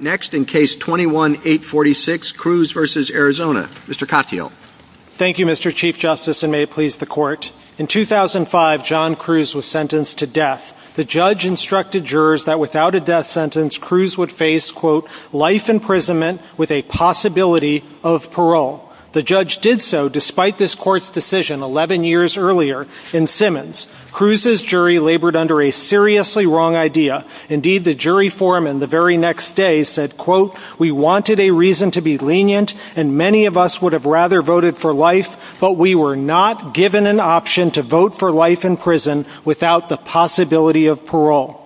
Next in Case 21-846, Cruz v. Arizona. Mr. Katyal. Thank you, Mr. Chief Justice, and may it please the Court. In 2005, John Cruz was sentenced to death. The judge instructed jurors that without a death sentence, Cruz would face quote, life imprisonment with a possibility of parole. The judge did so despite this Court's decision 11 years earlier in Simmons. Cruz's jury labored under a seriously wrong idea. Indeed, the jury forum in the very next day said, quote, we wanted a reason to be lenient, and many of us would have rather voted for life, but we were not given an option to vote for life in prison without the possibility of parole.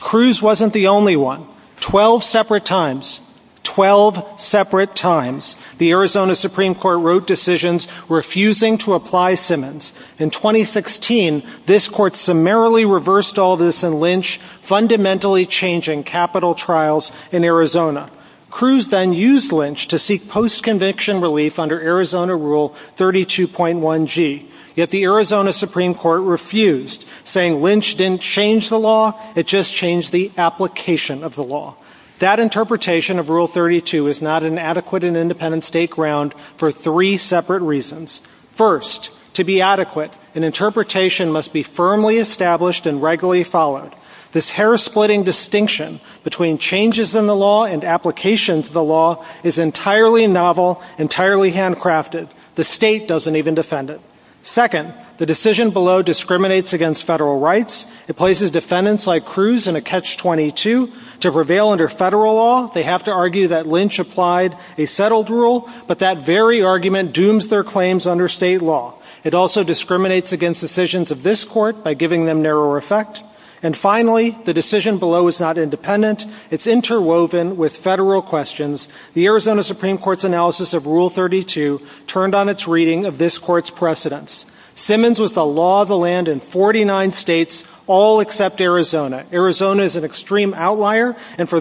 Cruz wasn't the only one. Twelve separate times, twelve separate times, the Arizona Supreme Court wrote decisions refusing to apply Simmons. In 2016, this Court summarily reversed all this in Lynch, fundamentally changing capital trials in Arizona. Cruz then used Lynch to seek post-conviction relief under Arizona Rule 32.1G, yet the Arizona Supreme Court refused, saying Lynch didn't change the law, it just changed the application of the law. That interpretation of Rule 32 is not an adequate and independent state ground for three separate reasons. First, to be adequate, an interpretation must be firmly established and regularly followed. This hair-splitting distinction between changes in the law and applications of the law is entirely novel, entirely handcrafted. The state doesn't even defend it. Second, the decision below discriminates against federal rights. It places defendants like Cruz in a catch-22 to prevail under federal law. They have to argue that Lynch applied a settled rule, but that very argument dooms their claims under state law. It also discriminates against decisions of this Court by giving them narrower effect. And finally, the decision below is not independent. It's interwoven with federal questions. The Arizona Supreme Court's analysis of Rule 32 turned on its reading of this Court's precedents. Simmons was the law of the land in 49 states, all except Arizona. Arizona is an extreme place. Out of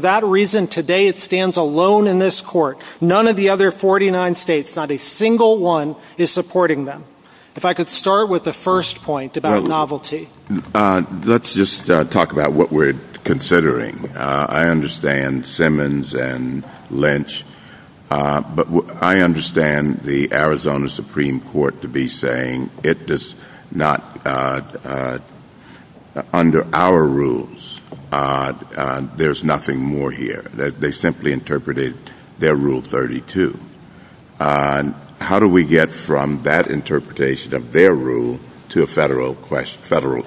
their 49 states, not a single one is supporting them. If I could start with the first point about novelty. Let's just talk about what we're considering. I understand Simmons and Lynch, but I understand the Arizona Supreme Court to be saying it does not, under our rules, there's nothing more here. They simply interpreted their Rule 32. How do we get from that interpretation of their rule to a federal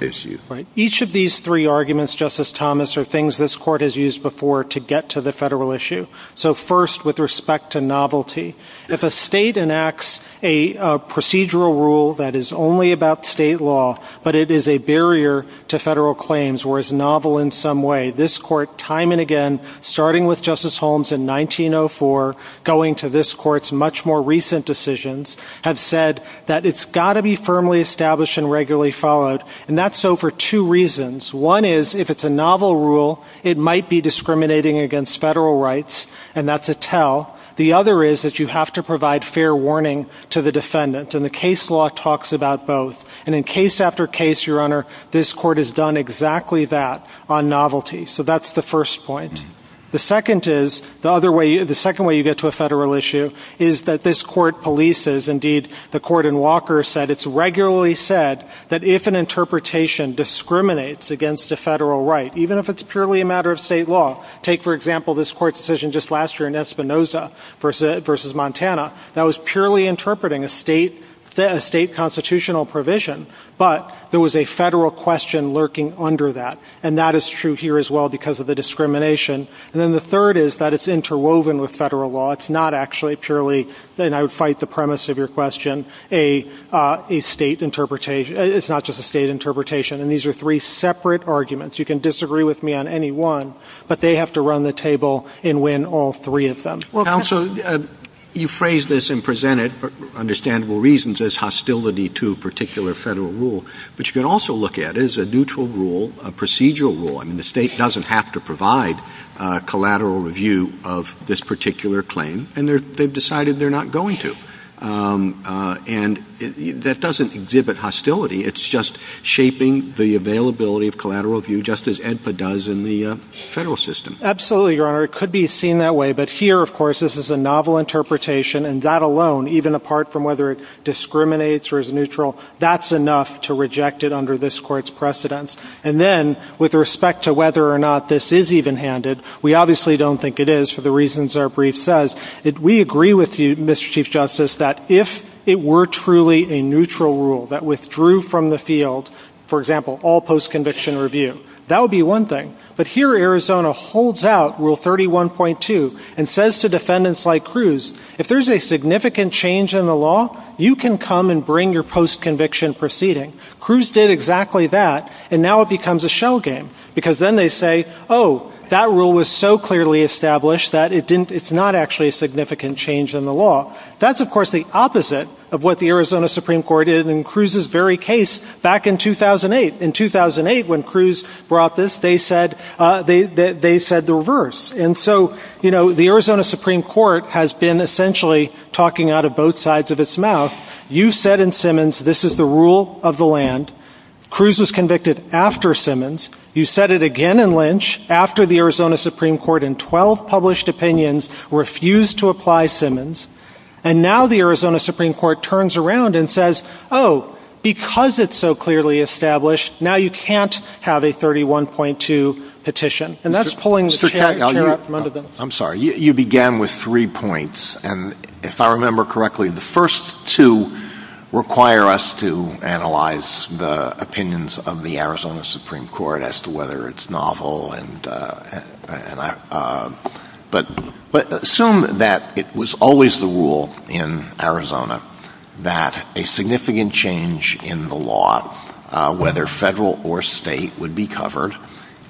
issue? Each of these three arguments, Justice Thomas, are things this Court has used before to get to the federal issue. So first, with respect to novelty, if a state enacts a procedural rule that is only about state law, but it is a barrier to federal claims or is novel in some way, this Court, time and again, starting with Justice Holmes in 1904, going to this Court's much more recent decisions, have said that it's got to be firmly established and regularly followed. And that's so for two reasons. One is, if it's a novel rule, it might be discriminating against federal rights, and that's a tell. The other is that you have to provide fair warning to the defendant, and the case law talks about both. And in this case, it's on novelty. So that's the first point. The second is, the other way, the second way you get to a federal issue is that this Court polices, indeed, the Court in Walker said it's regularly said that if an interpretation discriminates against a federal right, even if it's purely a matter of state law, take for example this Court's decision just last year in Espinoza versus Montana, that was purely interpreting a state constitutional provision, but there was a federal question lurking under that. And that is true here as well because of the discrimination. And then the third is that it's interwoven with federal law. It's not actually purely, and I would fight the premise of your question, a state interpretation. It's not just a state interpretation. And these are three separate arguments. You can disagree with me on any one, but they have to run the table and win all three of them. Counsel, you phrase this and present it for understandable reasons as hostility to a particular federal rule, but you can also look at it as a neutral rule, a procedural rule. I mean, the state doesn't have to provide collateral review of this particular claim, and they've decided they're not going to. And that doesn't exhibit hostility. It's just shaping the availability of collateral review, just as AEDPA does in the federal system. Absolutely, Your Honor. It could be seen that way. But here, of course, this is a novel interpretation, and that alone, even apart from whether it discriminates or is neutral, that's enough to reject it under this Court's precedence. And then, with respect to whether or not this is evenhanded, we obviously don't think it is, for the reasons our brief says. We agree with you, Mr. Chief Justice, that if it were truly a neutral rule that withdrew from the field, for example, all post-conviction review, that would be one thing. But here, Arizona holds out Rule 31.2 and says to defendants like Cruz, if there's a post-conviction proceeding. Cruz did exactly that, and now it becomes a shell game, because then they say, oh, that rule was so clearly established that it's not actually a significant change in the law. That's, of course, the opposite of what the Arizona Supreme Court did in Cruz's very case back in 2008. In 2008, when Cruz brought this, they said the reverse. And so, you know, the Arizona Supreme Court has been essentially talking out of both sides of its mouth. You said in Simmons, this is the rule of the land. Cruz was convicted after Simmons. You said it again in Lynch, after the Arizona Supreme Court, in 12 published opinions, refused to apply Simmons. And now the Arizona Supreme Court turns around and says, oh, because it's so clearly established, now you can't have a 31.2 petition. And that's pulling the chair out from under them. I'm sorry. You began with three points. And if I remember correctly, the first two require us to analyze the opinions of the Arizona Supreme Court as to whether it's novel. But assume that it was always the rule in Arizona that a significant change in the law, whether federal or state, would be covered,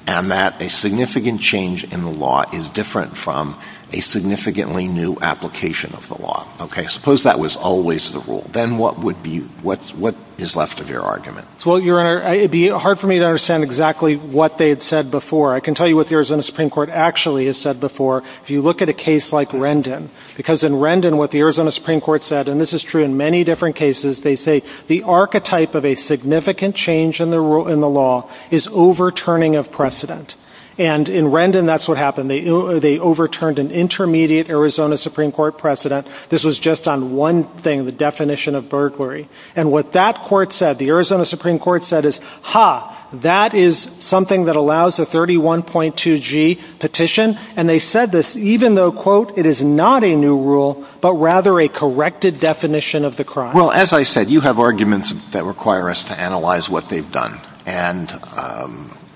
and that a significant change in the law is different from a significantly new application of the law. Okay? Suppose that was always the rule. Then what would be ‑‑ what is left of your argument? Well, Your Honor, it would be hard for me to understand exactly what they had said before. I can tell you what the Arizona Supreme Court actually has said before, if you look at a case like Rendon. Because in Rendon, what the Arizona Supreme Court said, and this is true in many different cases, they say the archetype of a significant change in the law is overturning of precedent. And in Rendon, that's what happened. They overturned an intermediate Arizona Supreme Court precedent. This was just on one thing, the definition of burglary. And what that court said, the Arizona Supreme Court said is, ha, that is something that allows a 31.2G petition. And they said this even though, quote, it is not a new rule, but rather a corrected definition of the crime. Well, as I said, you have arguments that require us to analyze what they've done. And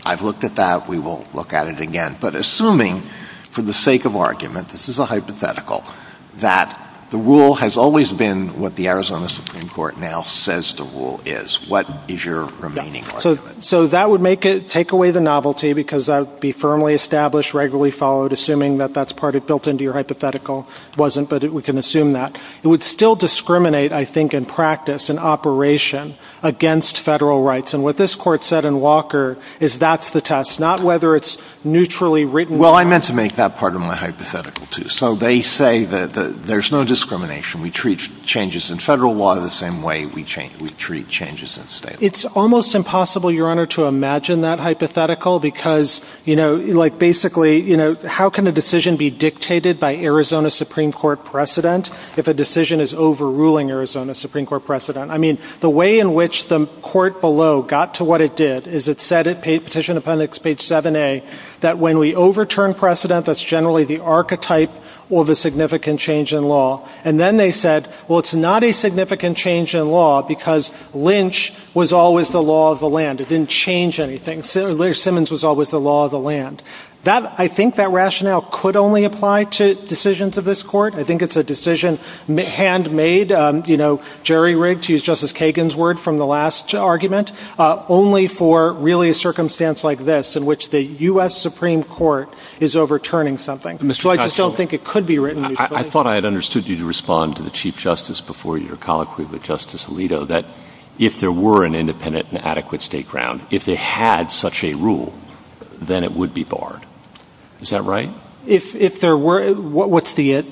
I've looked at that. We will look at it again. But assuming for the sake of argument, this is a hypothetical, that the rule has always been what the Arizona Supreme Court now says the rule is, what is your remaining argument? So that would make it ‑‑ take away the novelty because that would be firmly established, regularly followed, assuming that that's part of built into your hypothetical. It wasn't, but we can assume that. It would still discriminate, I think, in practice and operation against federal rights. And what this court said in Walker is that's the test, not whether it's neutrally written. Well, I meant to make that part of my hypothetical, too. So they say that there's no discrimination. We treat changes in federal law the same way we treat changes in state law. It's almost impossible, Your Honor, to imagine that hypothetical because, you know, like would a decision be dictated by Arizona Supreme Court precedent if a decision is overruling Arizona Supreme Court precedent? I mean, the way in which the court below got to what it did is it said at petition appendix page 7A that when we overturn precedent, that's generally the archetype of a significant change in law. And then they said, well, it's not a significant change in law because Lynch was always the law of the land. It didn't change anything. Simmons was always the law of the land. That I think that rationale could only apply to decisions of this court. I think it's a decision handmade, you know, jerry-rigged, to use Justice Kagan's word from the last argument, only for really a circumstance like this in which the U.S. Supreme Court is overturning something. So I just don't think it could be written neutrally. Mr. Kuchner, I thought I had understood you to respond to the Chief Justice before your colloquy with Justice Alito that if there were an independent and adequate state ground, if they had such a rule, then it would be barred. Is that right? If there were – what's the – If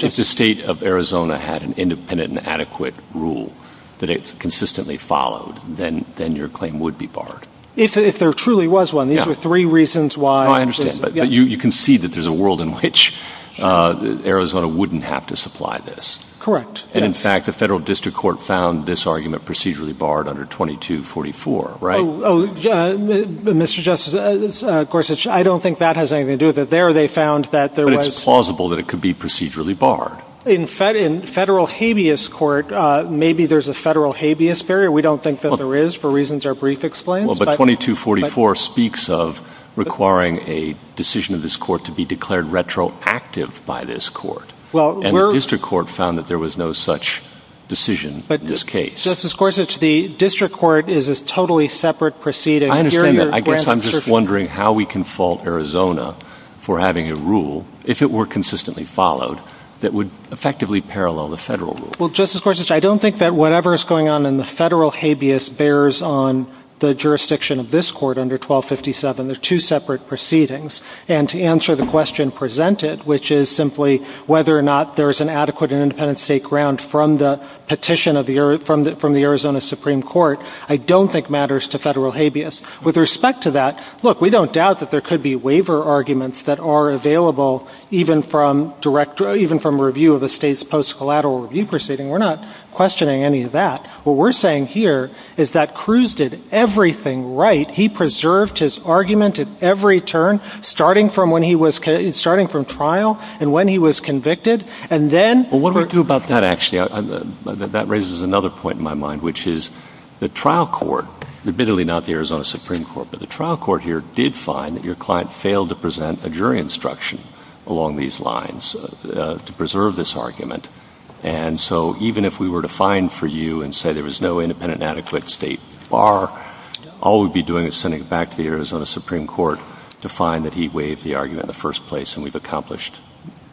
the state of Arizona had an independent and adequate rule that it consistently followed, then your claim would be barred. If there truly was one. These were three reasons why – No, I understand. But you can see that there's a world in which Arizona wouldn't have to supply this. Correct. Yes. And in fact, the federal district court found this argument procedurally barred under 2244, right? Oh, Mr. Justice Gorsuch, I don't think that has anything to do with it. There they found that there was – But it's plausible that it could be procedurally barred. In federal habeas court, maybe there's a federal habeas barrier. We don't think that there is for reasons our brief explains. Well, but 2244 speaks of requiring a decision of this court to be declared retroactive by this court. Well, we're – And the district court found that there was no such decision in this case. Justice Gorsuch, the district court is a totally separate proceeding. I understand that. I guess I'm just wondering how we can fault Arizona for having a rule, if it were consistently followed, that would effectively parallel the federal rule. Well, Justice Gorsuch, I don't think that whatever is going on in the federal habeas bears on the jurisdiction of this court under 1257. They're two separate proceedings. And to answer the question presented, which is simply whether or not there is an adequate and independent state ground from the petition from the Arizona Supreme Court, I don't think matters to federal habeas. With respect to that, look, we don't doubt that there could be waiver arguments that are available even from a review of a state's post-collateral review proceeding. We're not questioning any of that. What we're saying here is that Cruz did everything right. He preserved his argument at every turn, starting from trial and when he was convicted, and then – Well, what do we do about that, actually? That raises another point in my mind, which is the trial court, admittedly not the Arizona Supreme Court, but the trial court here did find that your client failed to present a jury instruction along these lines to preserve this argument. And so even if we were to find for you and say there was no independent and adequate state bar, all we'd be doing is sending it back to the Arizona Supreme Court to find that he waived the argument in the first place, and we've accomplished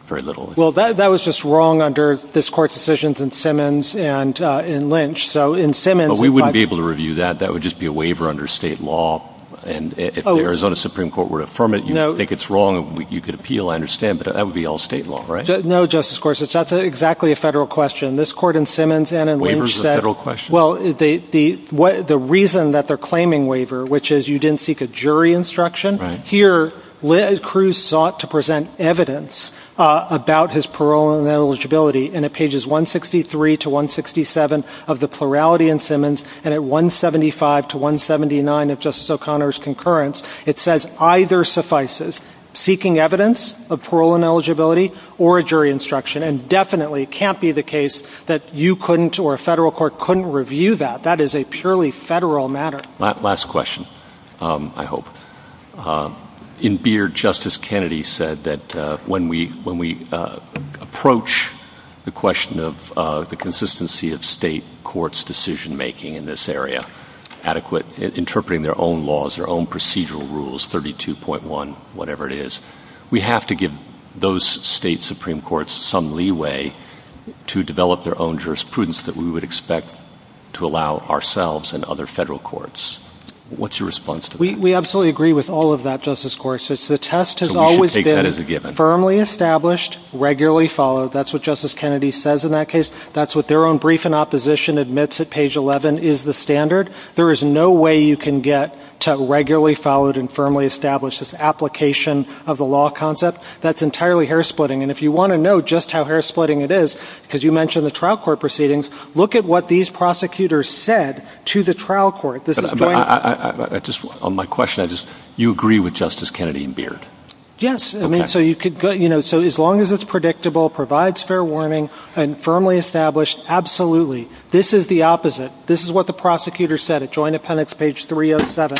very little. Well, that was just wrong under this court's decisions in Simmons and in Lynch. So in Simmons – But we wouldn't be able to review that. That would just be a waiver under state law, and if the Arizona Supreme Court were to affirm it, you'd think it's wrong and you could appeal, I understand, but that would be all state law, right? No, Justice Gorsuch, that's exactly a federal question. This court in Simmons and in Lynch said – Waiver's a federal question? Well, the reason that they're claiming waiver, which is you didn't seek a jury instruction, here Cruz sought to present evidence about his parole and eligibility, and at pages 163 to 167 of the plurality in Simmons, and at 175 to 179 of Justice O'Connor's concurrence, it says either suffices, seeking evidence of parole and eligibility or a jury instruction, and definitely can't be the case that you couldn't or a federal court couldn't review that. That is a purely federal matter. Last question, I hope. In Beard, Justice Kennedy said that when we – when we approach the question of the consistency of state courts' decision-making in this area, adequate – interpreting their own laws, their own procedural rules, 32.1, whatever it is, we have to give those state Supreme Courts some leeway to develop their own jurisprudence that we would expect to allow ourselves and other federal courts. What's your response to that? We absolutely agree with all of that, Justice Gorsuch. The test has always been – So we should take that as a given. Firmly established, regularly followed. That's what Justice Kennedy says in that case. That's what their own brief in opposition admits at page 11 is the standard. There is no way you can get to regularly followed and firmly established. This application of the law concept, that's entirely hair-splitting. And if you want to know just how hair-splitting it is, because you mentioned the trial court proceedings, look at what these prosecutors said to the trial court. I just – on my question, I just – you agree with Justice Kennedy in Beard? Yes. I mean, so you could go – you know, so as long as it's predictable, provides fair warning, and firmly established, absolutely. This is the opposite. This is what the prosecutor said at Joint Appendix, page 307.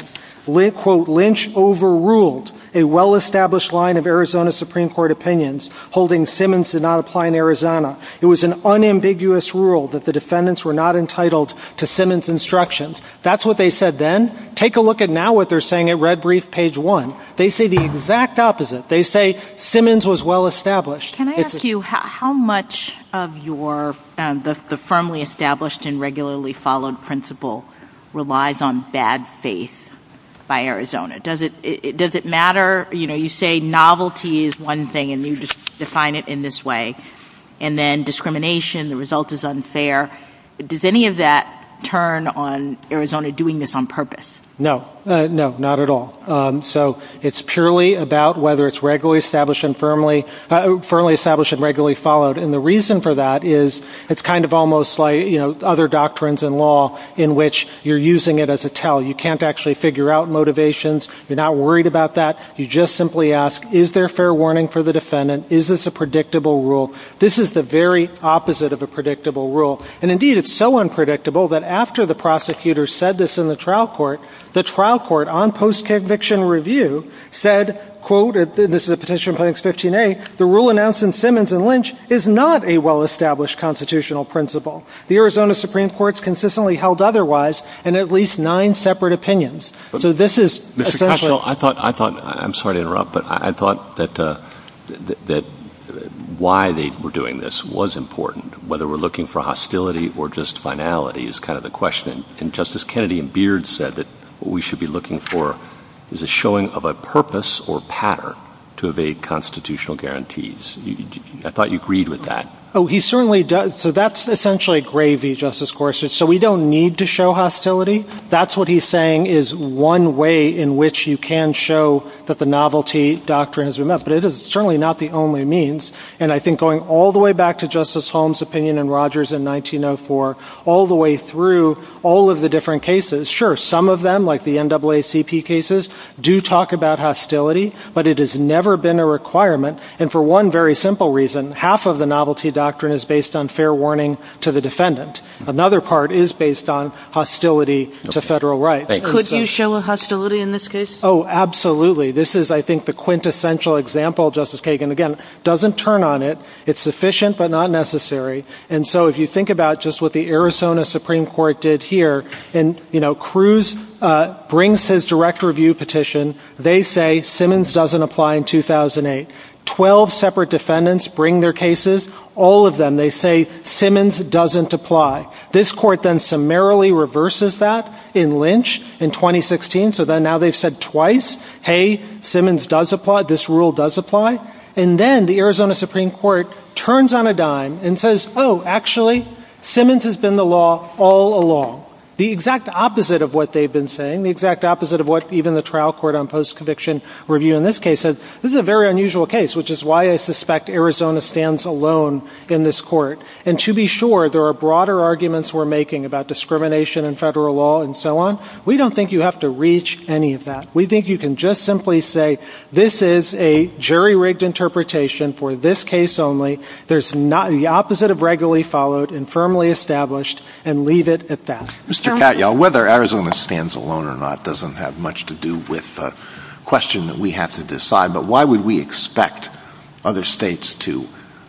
Quote, Lynch overruled a well-established line of Arizona Supreme Court opinions holding that Simmons did not apply in Arizona. It was an unambiguous rule that the defendants were not entitled to Simmons' instructions. That's what they said then. Take a look at now what they're saying at Red Brief, page 1. They say the exact opposite. They say Simmons was well-established. Can I ask you how much of your – the firmly established and regularly followed principle relies on bad faith by Arizona? Does it – does it matter – you know, you say novelty is one thing, and you define it in this way. And then discrimination, the result is unfair. Does any of that turn on Arizona doing this on purpose? No. No, not at all. So it's purely about whether it's regularly established and firmly – firmly established and regularly followed. And the reason for that is it's kind of almost like, you know, other doctrines in law in which you're using it as a tell. You can't actually figure out motivations. You're not worried about that. You just simply ask, is there fair warning for the defendant? Is this a predictable rule? This is the very opposite of a predictable rule. And indeed, it's so unpredictable that after the prosecutor said this in the trial court, the trial court, on post-conviction review, said, quote – and this is a petition in Plaintiff's 15A – the rule announced in Simmons and Lynch is not a well-established constitutional principle. The Arizona Supreme Court's consistently held otherwise in at least nine separate opinions. So this is essentially – Well, I thought – I thought – I'm sorry to interrupt, but I thought that why they were doing this was important, whether we're looking for hostility or just finality is kind of the question. And Justice Kennedy in Beard said that what we should be looking for is a showing of a purpose or pattern to evade constitutional guarantees. I thought you agreed with that. Oh, he certainly does. So that's essentially a gravy, Justice Gorsuch. So we don't need to show hostility. That's what he's saying is one way in which you can show that the novelty doctrine has been met. But it is certainly not the only means. And I think going all the way back to Justice Holmes' opinion in Rogers in 1904, all the way through all of the different cases, sure, some of them, like the NAACP cases, do talk about hostility, but it has never been a requirement. And for one very simple reason, half of the novelty to federal rights. Could you show hostility in this case? Oh, absolutely. This is, I think, the quintessential example, Justice Kagan. Again, doesn't turn on it. It's sufficient, but not necessary. And so if you think about just what the Arizona Supreme Court did here, and, you know, Cruz brings his direct review petition. They say Simmons doesn't apply in 2008. Twelve separate defendants bring their cases. All of them, they say Simmons doesn't apply. This court then summarily reverses that in Lynch in 2016. So now they've said twice, hey, Simmons does apply, this rule does apply. And then the Arizona Supreme Court turns on a dime and says, oh, actually, Simmons has been the law all along. The exact opposite of what they've been saying, the exact opposite of what even the trial court on post-conviction review in this case said. This is a very unusual case, which is why I suspect Arizona stands alone in this court. And to be sure, there are broader arguments we're making about discrimination in federal law and so on. We don't think you have to reach any of that. We think you can just simply say, this is a jury-rigged interpretation for this case only. There's not, the opposite of regularly followed and firmly established, and leave it at that. Mr. Katyal, whether Arizona stands alone or not doesn't have much to do with the question that we have to decide. But why would we expect other states to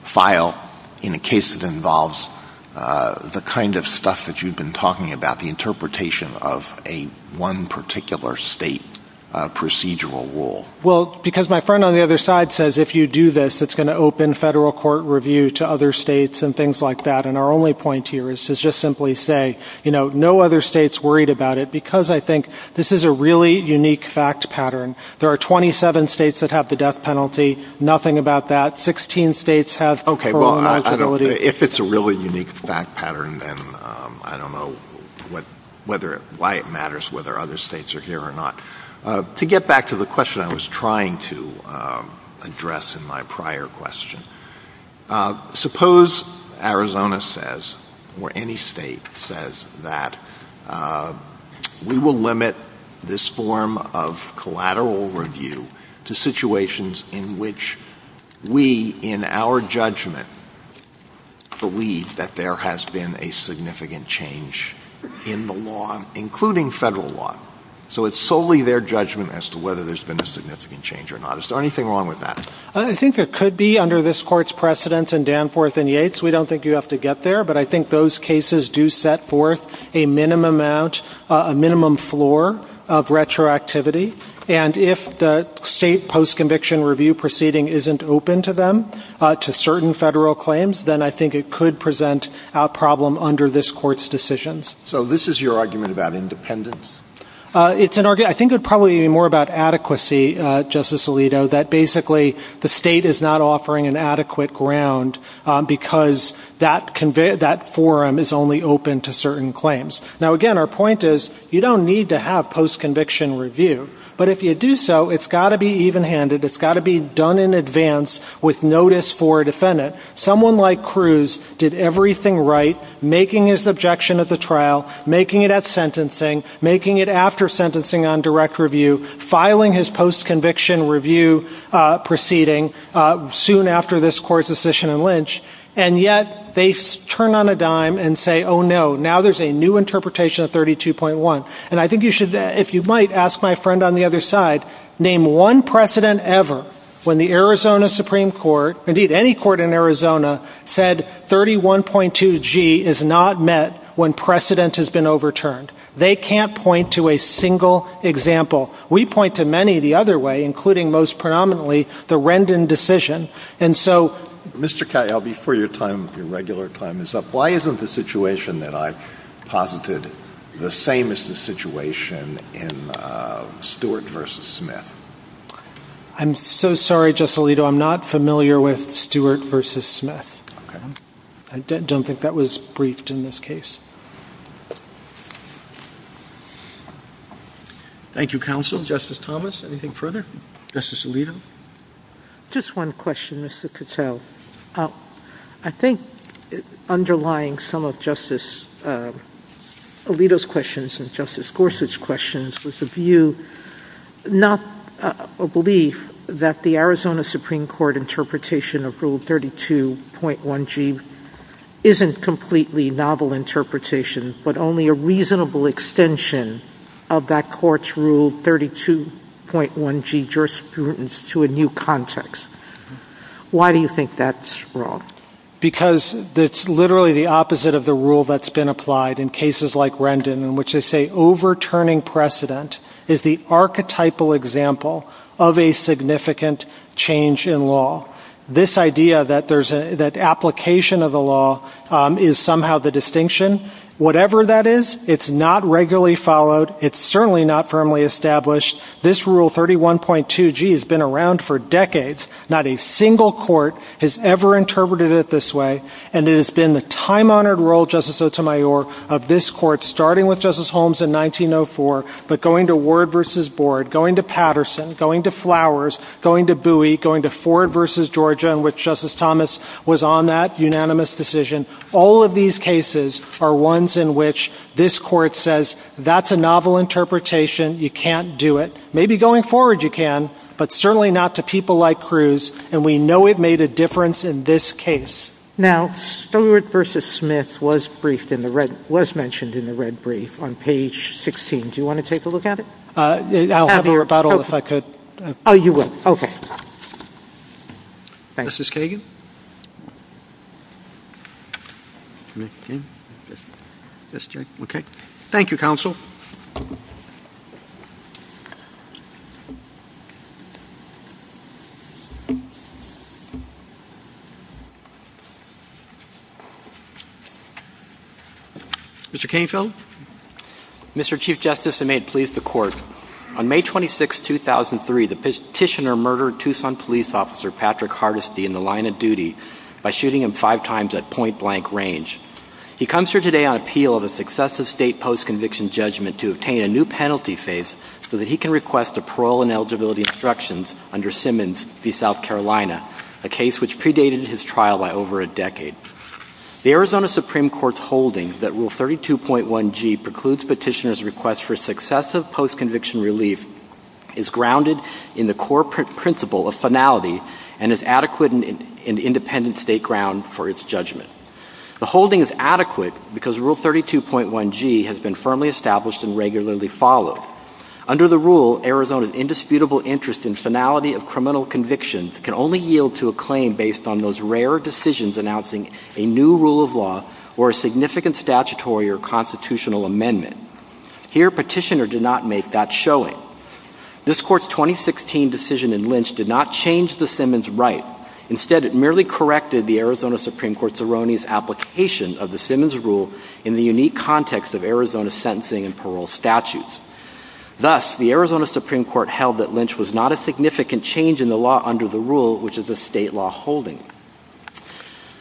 file in a case that involves the kind of stuff that you've been talking about, the interpretation of a one particular state procedural rule? Well, because my friend on the other side says if you do this, it's going to open federal court review to other states and things like that. And our only point here is to just simply say, you know, no other states worried about it, because I think this is a really unique fact pattern. There are 27 states that have the death penalty, nothing about that. Sixteen states have parole eligibility. Okay. Well, I don't, if it's a really unique fact pattern, then I don't know what, whether it, why it matters whether other states are here or not. To get back to the question I was trying to address in my prior question, suppose Arizona says or any state says that we will limit this form of collateral review to situations in which we, in our judgment, believe that there has been a significant change in the law, including federal law. So it's solely their judgment as to whether there's been a significant change or not. Is there anything wrong with that? I think there could be under this Court's precedence in Danforth and Yates. We don't think you have to get there, but I think those cases do set forth a minimum amount, a minimum floor of retroactivity. And if the state post-conviction review proceeding isn't open to them, to certain federal claims, then I think it could present a problem under this Court's decisions. So this is your argument about independence? It's an argument, I think it would probably be more about adequacy, Justice Alito, that basically the state is not offering an adequate ground because that forum is only open to certain claims. Now, again, our point is you don't need to have post-conviction review, but if you do so, it's got to be even-handed, it's got to be done in advance with notice for a defendant. Someone like Cruz did everything right, making his objection at the trial, making it at sentencing, making it after sentencing on direct review, filing his post-conviction review proceeding soon after this Court's decision in Lynch, and yet they turn on a dime and say, oh, no, now there's a new interpretation of 32.1. And I think you should, if you might, ask my friend on the other side, name one precedent ever when the Arizona Supreme Court, indeed any court in Arizona, said 31.2G is not met when precedent has been overturned. They can't point to a single example. We point to many the other way, including most predominantly the Rendon decision. And so... Mr. Cahill, before your time, your regular time, is up, why isn't the situation that I posited the same as the situation in Stewart v. Smith? I'm so sorry, Justice Alito, I'm not familiar with Stewart v. Smith. I don't think that was briefed in this case. Thank you, counsel. Justice Thomas, anything further? Justice Alito? Just one question, Mr. Cahill. I think underlying some of Justice Alito's questions and Justice Gorsuch's questions was a view, not a belief, that the Arizona Supreme Court interpretation of Rule 32.1G isn't completely novel interpretation, but only a reasonable extension of that court's Rule 32.1G jurisprudence to a new context. Why do you think that's wrong? Because it's literally the opposite of the rule that's been applied in cases like Rendon, in which they say overturning precedent is the archetypal example of a significant change in law. This idea that application of the law is somehow the distinction, whatever that is, it's not regularly followed, it's certainly not firmly established. This Rule 31.2G has been around for decades. Not a single court has ever interpreted it this way, and it has been the time-honored role, Justice Sotomayor, of this court, starting with Justice Holmes in 1904, but going to Ward v. Board, going to Patterson, going to Flowers, going to Bowie, going to Ford v. Georgia, in which Justice Thomas was on that unanimous decision. All of these cases are ones in which this Court says, that's a novel interpretation, you can't do it. Maybe going forward you can, but certainly not to people like Cruz, and we know it made a difference in this case. Now, Ford v. Smith was mentioned in the red brief on page 16. Do you want to take a look at it? I'll have a rebuttal if I could. Oh, you will. Okay. Justice Kagan? Thank you, Counsel. Mr. Kainfield? Mr. Chief Justice, and may it please the Court, on May 26, 2003, the Petitioner murdered Tucson police officer Patrick Hardesty in the line of duty by shooting him five times at point-blank range. He comes here today on appeal of a successive State post-conviction judgment to obtain a new penalty phase so that he can request a parole and eligibility instructions under Simmons v. South Carolina, a case which predated his trial by over a decade. The Arizona Supreme Court's holding that Rule 32.1G precludes Petitioner's request for successive post-conviction relief is grounded in the core principle of finality and is adequate and independent State ground for its judgment. The holding is adequate because Rule 32.1G has been firmly established and regularly followed. Under the rule, Arizona's indisputable interest in finality of criminal convictions can only yield to a claim based on those rare decisions announcing a new rule of law or a significant statutory or constitutional amendment. Here, Petitioner did not make that application of the Simmons rule in the unique context of Arizona's sentencing and parole statutes. Thus, the Arizona Supreme Court held that Lynch was not a significant change in the law under the rule, which is a State law holding.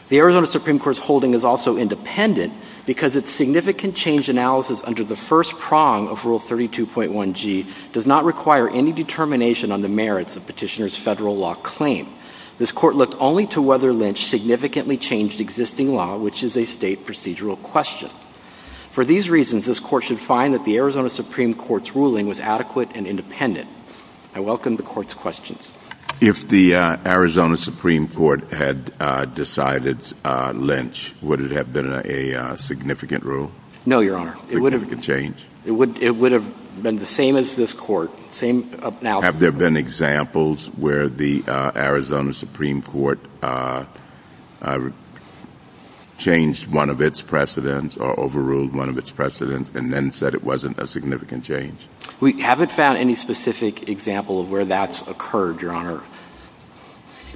The Arizona Supreme Court's holding is also independent because its significant change analysis under the first prong of Rule 32.1G does not require any determination on the merits of Petitioner's Federal law claim. This Court looked only to whether Lynch significantly changed existing law, which is a State procedural question. For these reasons, this Court should find that the Arizona Supreme Court's ruling was adequate and independent. I welcome the Court's questions. If the Arizona Supreme Court had decided Lynch, would it have been a significant rule? No, Your Honor. Significant change? It would have been the same as this Court. Have there been examples where the Arizona Supreme Court changed one of its precedents or overruled one of its precedents and then said it wasn't a significant change? We haven't found any specific example of where that's occurred, Your Honor.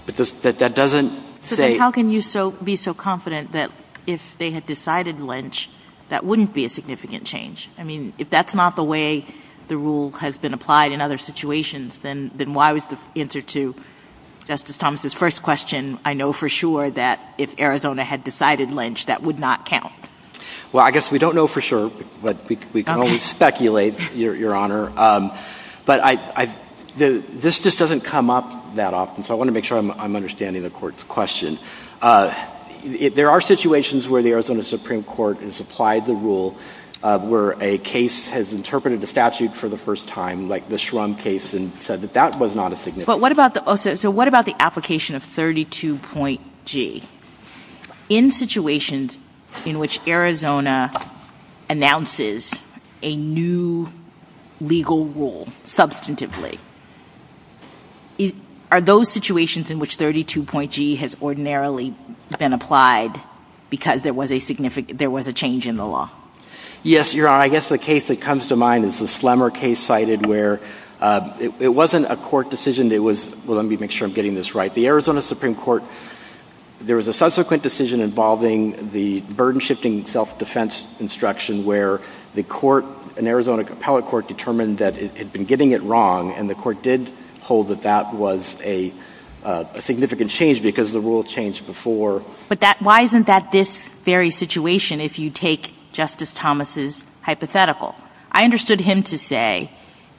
But that doesn't say — How can you be so confident that if they had decided Lynch, that wouldn't be a significant change? I mean, if that's not the way the rule has been applied in other situations, then why was the answer to Justice Thomas' first question, I know for sure that if Arizona had decided Lynch, that would not count? Well, I guess we don't know for sure, but we can only speculate, Your Honor. Okay. But I — this just doesn't come up that often, so I want to make sure I'm understanding the Court's question. There are situations where the Arizona Supreme Court has applied the rule where a case has interpreted a statute for the first time, like the Shrum case, and said that that was not a significant change. But what about the — so what about the application of 32.G? In situations in which Arizona announces a new legal rule substantively, are those situations in which 32.G has ordinarily been applied because there was a significant — there was a change in the law? Yes, Your Honor. I guess the case that comes to mind is the Slemmer case cited where it wasn't a court decision. It was — well, let me make sure I'm getting this right. The Arizona Supreme Court — there was a subsequent decision involving the burden-shifting self-defense instruction where the court — an Arizona appellate court determined that it had been getting it wrong, and the court did hold that that was a significant change because the rule changed before. But that — why isn't that this very situation if you take Justice Thomas' hypothetical? I understood him to say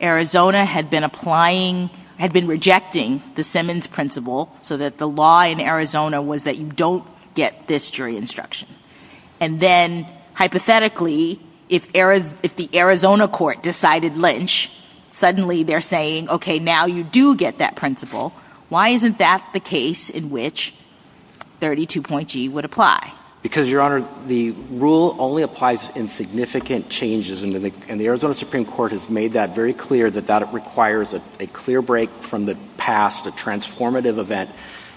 Arizona had been applying — had been rejecting the Simmons principle so that the law in Arizona was that you don't get this jury instruction. And then, hypothetically, if the Arizona court decided Lynch, suddenly they're saying, okay, now you do get that principle, why isn't that the case in which 32.G would apply? Because, Your Honor, the rule only applies in significant changes, and the Arizona Supreme Court has made that very clear that that requires a clear break from the past, a transformative event.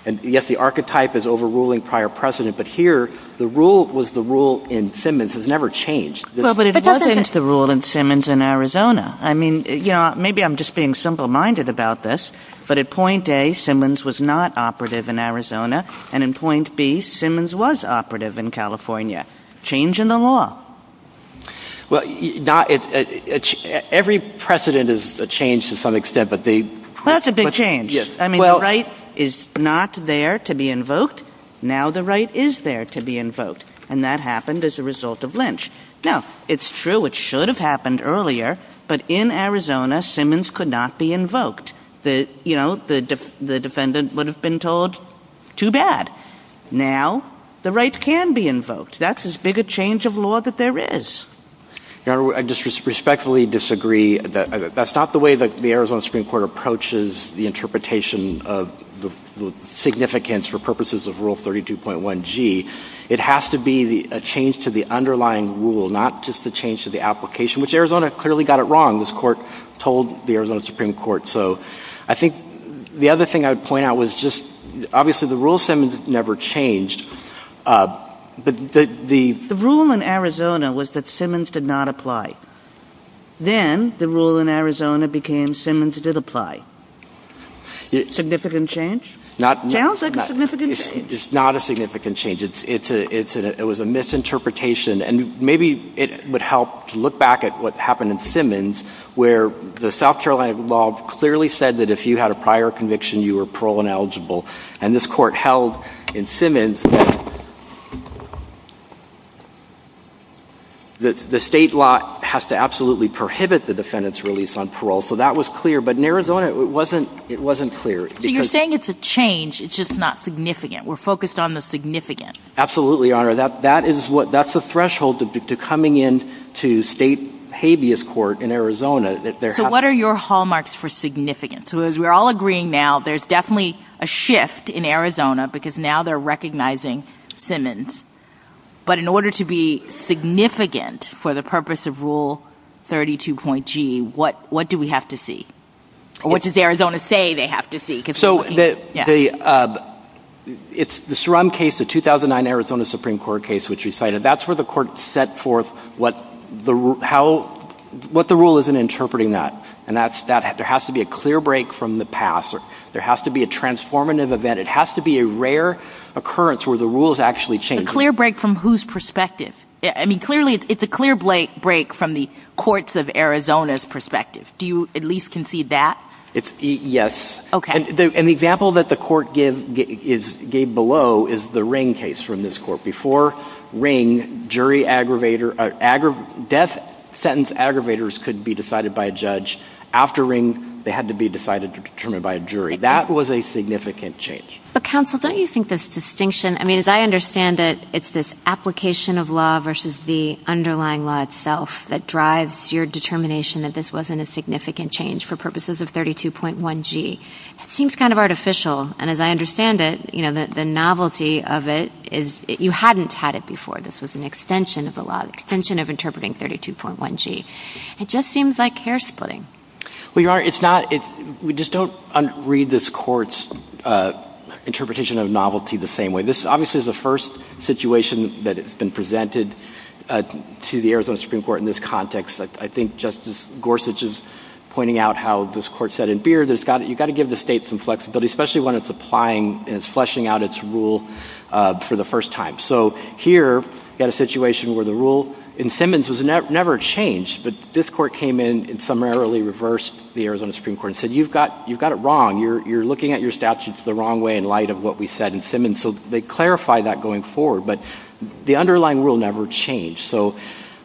And yes, the archetype is overruling prior precedent, but here the rule was the rule in Simmons. It's never changed. But it wasn't the rule in Simmons in Arizona. I mean, you know, maybe I'm just being simple-minded about this, but at point A, Simmons was not operative in Arizona, and in point B, Simmons was operative in California. Change in the law. Well, not — every precedent is a change to some extent, but the — Well, that's a big change. Yes. I mean, the right is not there to be invoked. Now the right is there to be invoked, and that happened as a result of Lynch. Now, it's true it should have happened earlier, but in Arizona, Simmons could not be invoked. The — you know, the defendant would have been told, too bad. Now the right can be invoked. That's as big a change of law that there is. Your Honor, I just respectfully disagree. That's not the way that the Arizona Supreme Court approaches the interpretation of the significance for purposes of Rule 32.1G. It has to be a change to the underlying rule, not just a change to the application, which Arizona clearly got it wrong. This Court told the Arizona Supreme Court. So I think the other thing I would point out was just — obviously, the rule of Simmons never changed, but the — The rule in Arizona was that Simmons did not apply. Then the rule in Arizona became Simmons did apply. Significant change? Not — Sounds like a significant change. It's not a significant change. It's a — it was a misinterpretation, and maybe it would help to look back at what happened in Simmons, where the South Carolina law clearly said that if you had a prior conviction, you were parole-ineligible. And this Court held in Simmons that the state law has to absolutely prohibit the defendant's release on parole. So that was clear. But in Arizona, it wasn't — it wasn't clear. So you're saying it's a change. It's just not significant. We're focused on the significant. Absolutely, Your Honor. That is what — that's the threshold to coming in to state habeas court in Arizona. So what are your hallmarks for significant? So as we're all agreeing now, there's definitely a shift in Arizona, because now they're recognizing Simmons. But in order to be significant for the purpose of Rule 32.G, what do we have to see? Or what does Arizona say they have to see? So the — it's the Surum case, the 2009 Arizona Supreme Court case, which you cited. That's where the Court set forth what the — how — what the rule is in interpreting that. And that's — there has to be a clear break from the past. There has to be a transformative event. It has to be a rare occurrence where the rules actually change. A clear break from whose perspective? I mean, clearly, it's a clear break from the courts of Arizona's perspective. Do you at least concede that? It's — yes. Okay. And the example that the Court give — is — gave below is the Ring case from this court. Before Ring, jury aggravator — death sentence aggravators could be decided by a judge. After Ring, they had to be decided or determined by a jury. That was a significant change. But, counsel, don't you think this distinction — I mean, as I understand it, it's this application of law versus the underlying law itself that drives your determination that this wasn't a significant change for purposes of 32.1G. It seems kind of artificial. And as I understand it, you know, the novelty of it is — you hadn't had it before. This was an extension of the law, an extension of interpreting 32.1G. It just seems like hair splitting. Well, Your Honor, it's not — we just don't read this Court's interpretation of novelty the same way. This obviously is the first situation that has been presented to the Arizona Supreme Court in this context. I think Justice Gorsuch is pointing out how this Court said in Beard, you've got to give the State some flexibility, especially when it's applying and it's fleshing out its rule for the first time. So here, you've got a situation where the rule in Simmons was never changed. But this Court came in and summarily reversed the Arizona Supreme Court and said, you've got it wrong. You're looking at your statutes the wrong way in light of what we said in Simmons. So they clarified that going forward. But the underlying rule never changed. So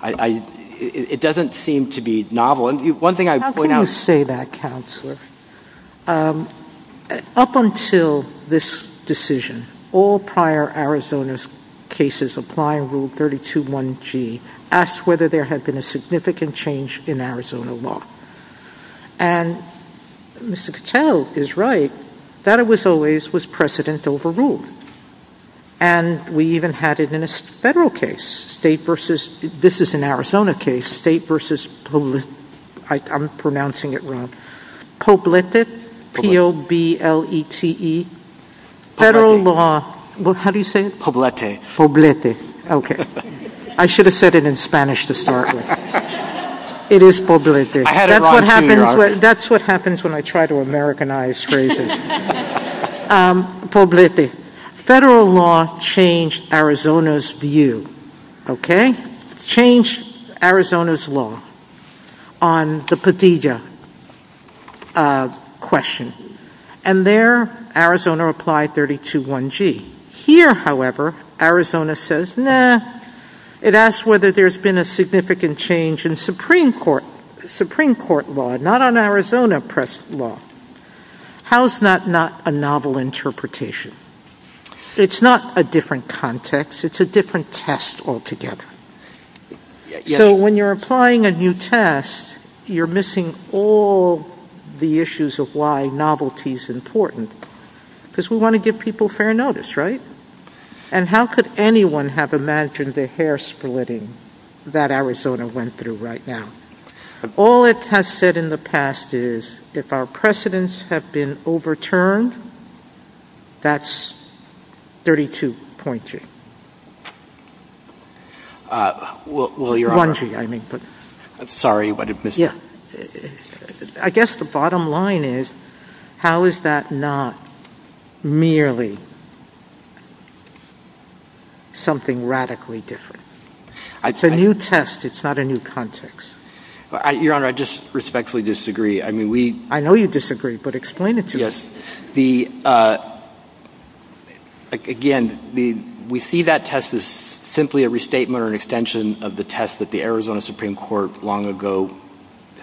I — it doesn't seem to be novel. One thing I would point out — How can you say that, Counselor? Up until this decision, all prior Arizona cases applying Rule 32.1G asked whether there had been a significant change in Arizona law. And Mr. Cattell is right that it was always was precedent overruled. And we even had it in a Federal case, State versus — this is an Arizona case — State versus — I'm pronouncing it wrong — Poblete, P-O-B-L-E-T-E, Federal law — How do you say it? Poblete. Poblete. Okay. I should have said it in Spanish to start with. It is Poblete. I had it wrong, too, Your Honor. That's what happens when I try to Americanize phrases. Poblete. Federal law changed Arizona's view, okay? It changed Arizona's law on the Petitia question. And there, Arizona applied 32.1G. Here, however, Arizona says, nah. It asks whether there's been a significant change in Supreme Court law, not on Arizona press law. How is that not a novel interpretation? It's not a different context. It's a different test altogether. So when you're applying a new test, you're missing all the issues of why novelty is important because we want to give people fair notice, right? And how could anyone have imagined the hair-splitting that Arizona went through right now? All it has said in the past is, if our precedents have been overturned, that's 32.3. Well, Your Honor — 1G, I mean. Sorry, but I missed it. I guess the bottom line is, how is that not merely something radically different? It's a new test. It's not a new context. Your Honor, I just respectfully disagree. I mean, we — I know you disagree, but explain it to me. Yes. Again, we see that test as simply a restatement or an extension of the test that the Arizona Supreme Court long ago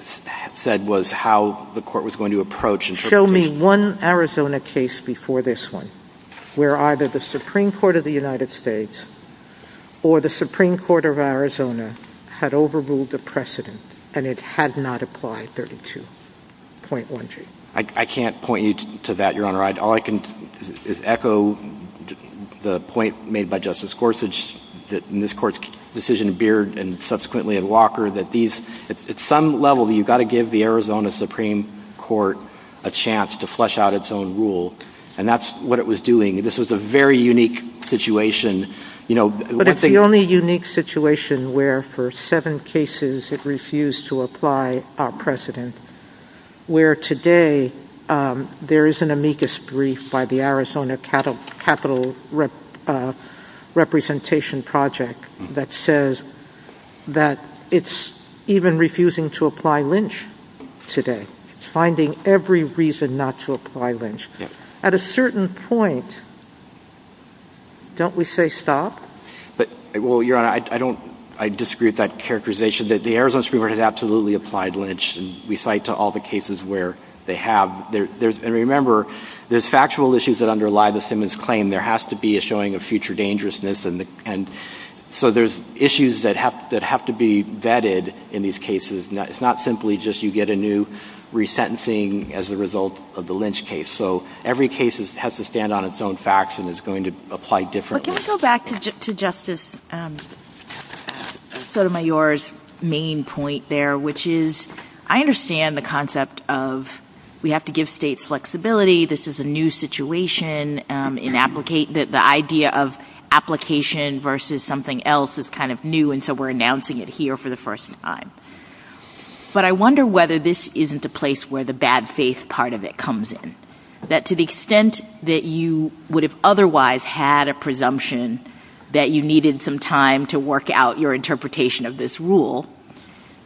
said was how the court was going to approach interpretation. Show me one Arizona case before this one where either the Supreme Court of the United States or the Supreme Court of Arizona had overruled the precedent, and it had not applied 32.1G. I can't point you to that, Your Honor. All I can is echo the point made by Justice Gorsuch in this Court's decision in Beard and subsequently in Walker that these — at some level, you've got to give the Arizona Supreme Court a chance to flesh out its own rule. And that's what it was doing. This was a very unique situation. You know, one thing — But it's the only unique situation where, for seven cases, it refused to apply our precedent, where today there is an amicus brief by the Arizona Capital Representation Project that says that it's even refusing to apply Lynch today. It's finding every reason not to apply Lynch. At a certain point, don't we say stop? But — well, Your Honor, I don't — I disagree with that characterization, that the Arizona Supreme Court has absolutely applied Lynch. And we cite to all the cases where they have. And remember, there's factual issues that underlie the Simmons claim. There has to be a showing of future dangerousness. And so there's issues that have to be vetted in these cases. It's not simply just you get a new resentencing as a result of the Lynch case. So every case has to stand on its own facts and is going to apply differently. So can we go back to Justice Sotomayor's main point there, which is I understand the concept of we have to give states flexibility. This is a new situation in the idea of application versus something else is kind of new, and so we're announcing it here for the first time. But I wonder whether this isn't a place where the bad faith part of it comes in, that to the extent that you would have otherwise had a presumption that you needed some time to work out your interpretation of this rule,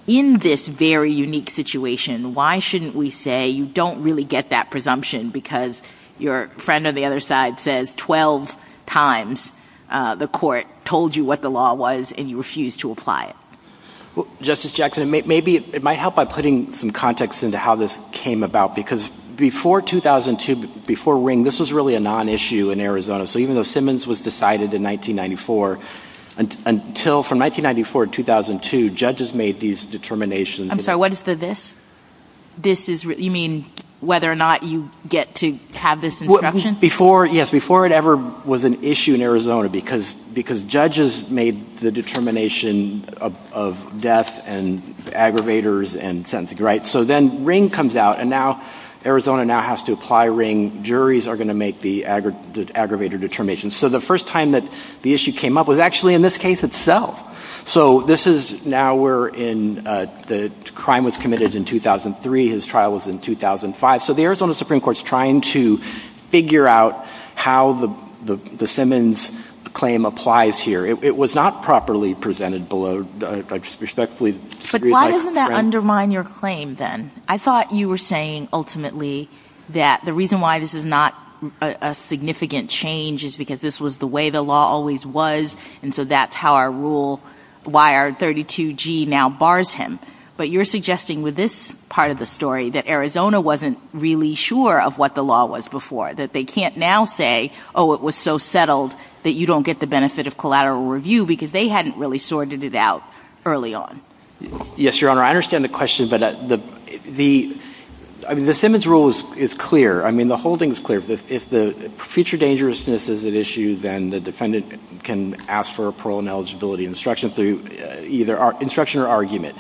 in this very unique situation, why shouldn't we say you don't really get that presumption because your friend on the other side says 12 times the court told you what the law was and you refused to apply it? Justice Jackson, maybe it might help by putting some context into how this came about, because before 2002, before Ring, this was really a nonissue in Arizona. So even though Simmons was decided in 1994, until from 1994 to 2002, judges made these determinations. I'm sorry, what is the this? You mean whether or not you get to have this instruction? Yes, before it ever was an issue in Arizona, because judges made the determination of death and aggravators and sentencing. So then Ring comes out, and now Arizona now has to apply Ring. Juries are going to make the aggravator determination. So the first time that the issue came up was actually in this case itself. So this is now where the crime was committed in 2003. His trial was in 2005. So the Arizona Supreme Court is trying to figure out how the Simmons claim applies here. It was not properly presented below. But why doesn't that undermine your claim then? I thought you were saying ultimately that the reason why this is not a significant change is because this was the way the law always was, and so that's how our rule, why our 32G now bars him. But you're suggesting with this part of the story that Arizona wasn't really sure of what the law was before, that they can't now say, oh, it was so settled that you don't get the benefit of collateral review because they hadn't really sorted it out early on. Yes, Your Honor. I understand the question, but the Simmons rule is clear. I mean the holding is clear. If the future dangerousness is at issue, then the defendant can ask for a parole and eligibility instruction through either instruction or argument.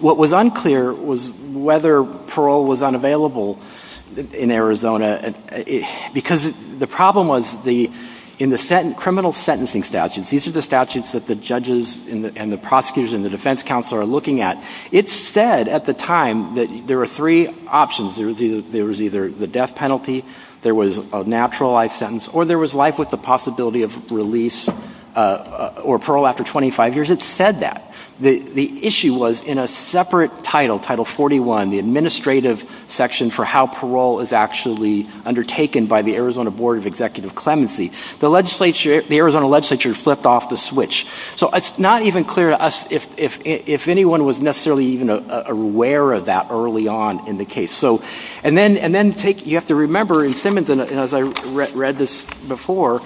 What was unclear was whether parole was unavailable in Arizona because the problem was in the criminal sentencing statutes, these are the statutes that the judges and the prosecutors and the defense counsel are looking at. It said at the time that there were three options. There was either the death penalty, there was a natural life sentence, or there was life with the possibility of release or parole after 25 years. It said that. The issue was in a separate title, Title 41, the administrative section for how parole is actually undertaken by the Arizona Board of Executive Clemency. The Arizona legislature flipped off the switch. So it's not even clear to us if anyone was necessarily even aware of that early on in the case. And then you have to remember in Simmons, and as I read this before,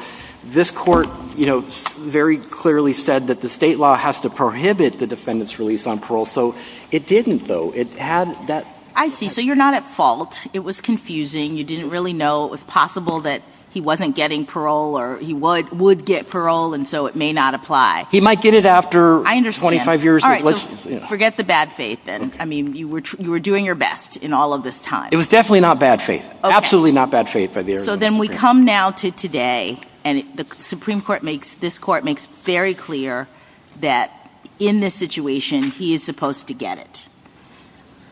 this court very clearly said that the state law has to prohibit the defendant's release on parole. So it didn't, though. I see. So you're not at fault. It was confusing. You didn't really know. It was possible that he wasn't getting parole or he would get parole, and so it may not apply. He might get it after 25 years. I understand. All right. So forget the bad faith, then. I mean, you were doing your best in all of this time. It was definitely not bad faith. Absolutely not bad faith by the Arizona Supreme Court. So then we come now to today, and this court makes very clear that in this situation, he is supposed to get it.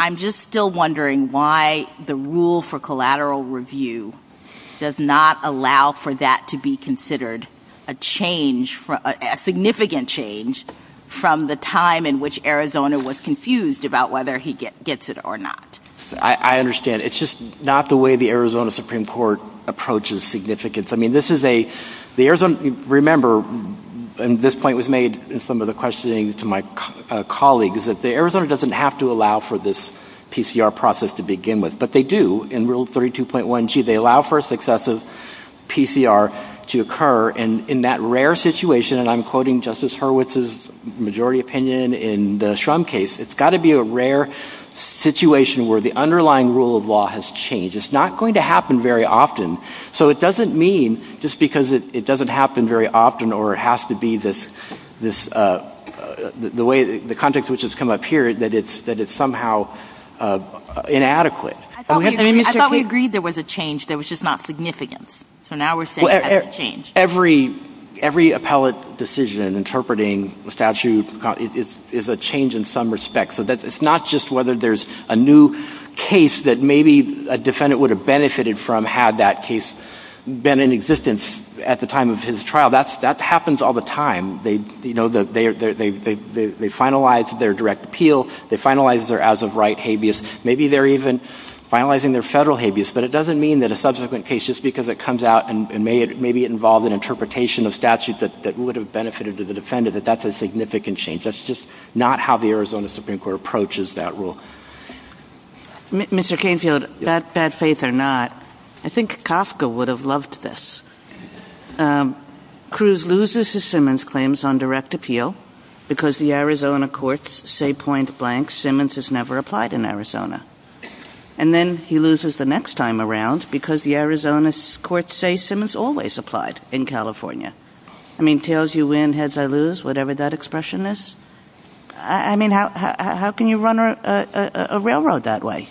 I'm just still wondering why the rule for collateral review does not allow for that to be considered a change, a significant change from the time in which Arizona was confused about whether he gets it or not. I understand. It's just not the way the Arizona Supreme Court approaches significance. Remember, and this point was made in some of the questioning to my colleagues, that Arizona doesn't have to allow for this PCR process to begin with, but they do in Rule 32.1G. They allow for a successive PCR to occur, and in that rare situation, and I'm quoting Justice Hurwitz's majority opinion in the Shrum case, it's got to be a rare situation where the underlying rule of law has changed. It's not going to happen very often. So it doesn't mean, just because it doesn't happen very often, or it has to be the way the context in which it's come up here, that it's somehow inadequate. I thought we agreed there was a change, there was just not significance. So now we're saying there's a change. Every appellate decision interpreting a statute is a change in some respect. So it's not just whether there's a new case that maybe a defendant would have benefited from had that case been in existence at the time of his trial. That happens all the time. They finalize their direct appeal. They finalize their as-of-right habeas. Maybe they're even finalizing their federal habeas. But it doesn't mean that a subsequent case, just because it comes out and maybe it involved an interpretation of statute that would have benefited the defendant, that that's a significant change. That's just not how the Arizona Supreme Court approaches that rule. Mr. Canfield, bad faith or not, I think Kafka would have loved this. Cruz loses his Simmons claims on direct appeal because the Arizona courts say point blank, Simmons has never applied in Arizona. And then he loses the next time around because the Arizona courts say Simmons always applied in California. I mean, tails you win, heads I lose, whatever that expression is. I mean, how can you run a railroad that way?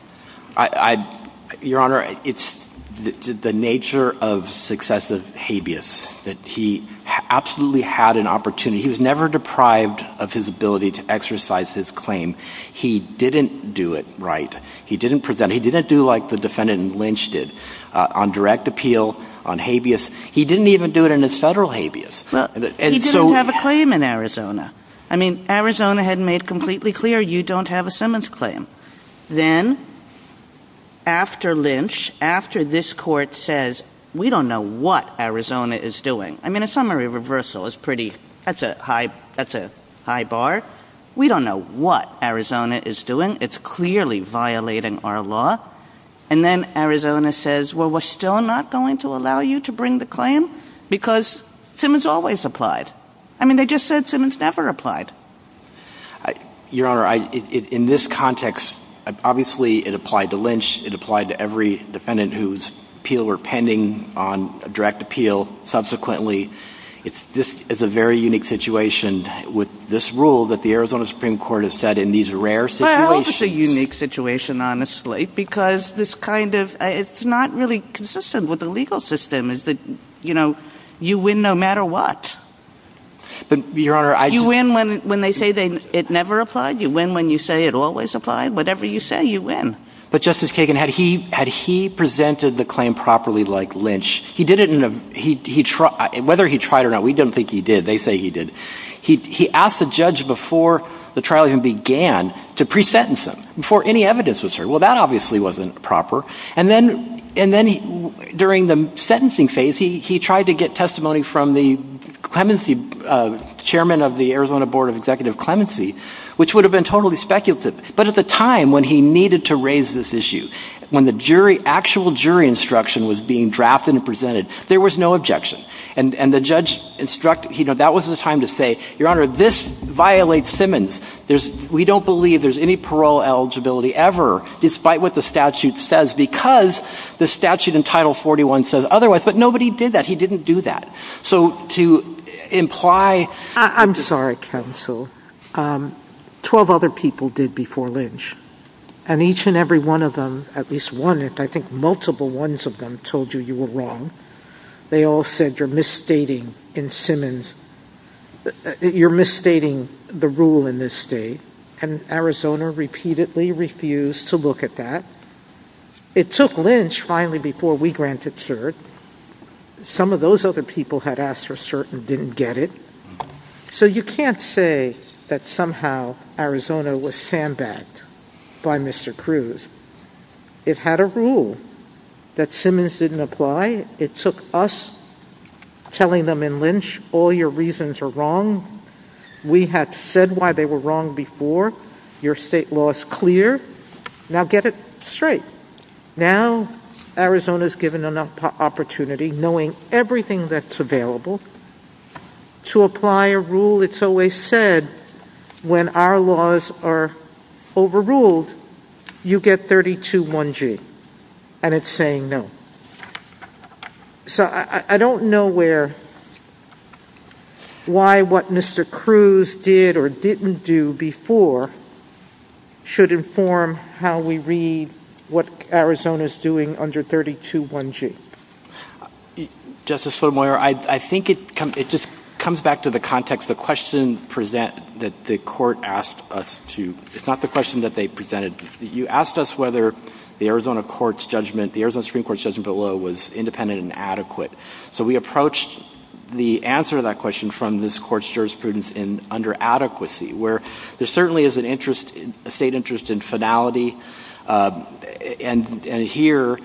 Your Honor, it's the nature of successive habeas that he absolutely had an opportunity. He was never deprived of his ability to exercise his claim. He didn't do it right. He didn't present it. He didn't do like the defendant in Lynch did on direct appeal, on habeas. He didn't even do it in his federal habeas. He didn't have a claim in Arizona. I mean, Arizona had made completely clear you don't have a Simmons claim. Then after Lynch, after this court says we don't know what Arizona is doing. I mean, a summary reversal is pretty, that's a high bar. We don't know what Arizona is doing. It's clearly violating our law. And then Arizona says, well, we're still not going to allow you to bring the claim because Simmons always applied. I mean, they just said Simmons never applied. Your Honor, in this context, obviously it applied to Lynch. It applied to every defendant whose appeal were pending on direct appeal. Subsequently, this is a very unique situation with this rule that the Arizona Supreme Court has said in these rare situations. Well, it's a unique situation, honestly, because this kind of, it's not really consistent with the legal system. It's the, you know, you win no matter what. But, Your Honor, I just. You win when they say it never applied. You win when you say it always applied. Whatever you say, you win. But, Justice Kagan, had he presented the claim properly like Lynch, he did it in a, whether he tried or not, we don't think he did. They say he did. He asked the judge before the trial even began to pre-sentence him, before any evidence was served. Well, that obviously wasn't proper. And then, during the sentencing phase, he tried to get testimony from the clemency chairman of the Arizona Board of Executive Clemency, which would have been totally speculative. But at the time when he needed to raise this issue, when the jury, actual jury instruction was being drafted and presented, there was no objection. And the judge instructed, you know, that was the time to say, Your Honor, this violates Simmons. There's, we don't believe there's any parole eligibility ever, despite what the statute says, because the statute in Title 41 says otherwise. But nobody did that. He didn't do that. So, to imply. I'm sorry, counsel. Twelve other people did before Lynch. And each and every one of them, at least one, I think multiple ones of them, told you you were wrong. They all said you're misstating in Simmons, you're misstating the rule in this state. And Arizona repeatedly refused to look at that. It took Lynch, finally, before we granted cert. Some of those other people had asked for cert and didn't get it. So, you can't say that somehow Arizona was sandbagged by Mr. Cruz. It had a rule that Simmons didn't apply. It took us telling them in Lynch, All your reasons are wrong. We had said why they were wrong before. Your state law is clear. Now, get it straight. Now, Arizona's given an opportunity, knowing everything that's available, to apply a rule. It's always said when our laws are overruled, you get 32-1G. And it's saying no. So, I don't know where, why what Mr. Cruz did or didn't do before should inform how we read what Arizona's doing under 32-1G. Justice Sotomayor, I think it just comes back to the context. The question that the Court asked us to, it's not the question that they presented. You asked us whether the Arizona Supreme Court's judgment below was independent and adequate. So, we approached the answer to that question from this Court's jurisprudence in under adequacy, where there certainly is a state interest in finality. And here,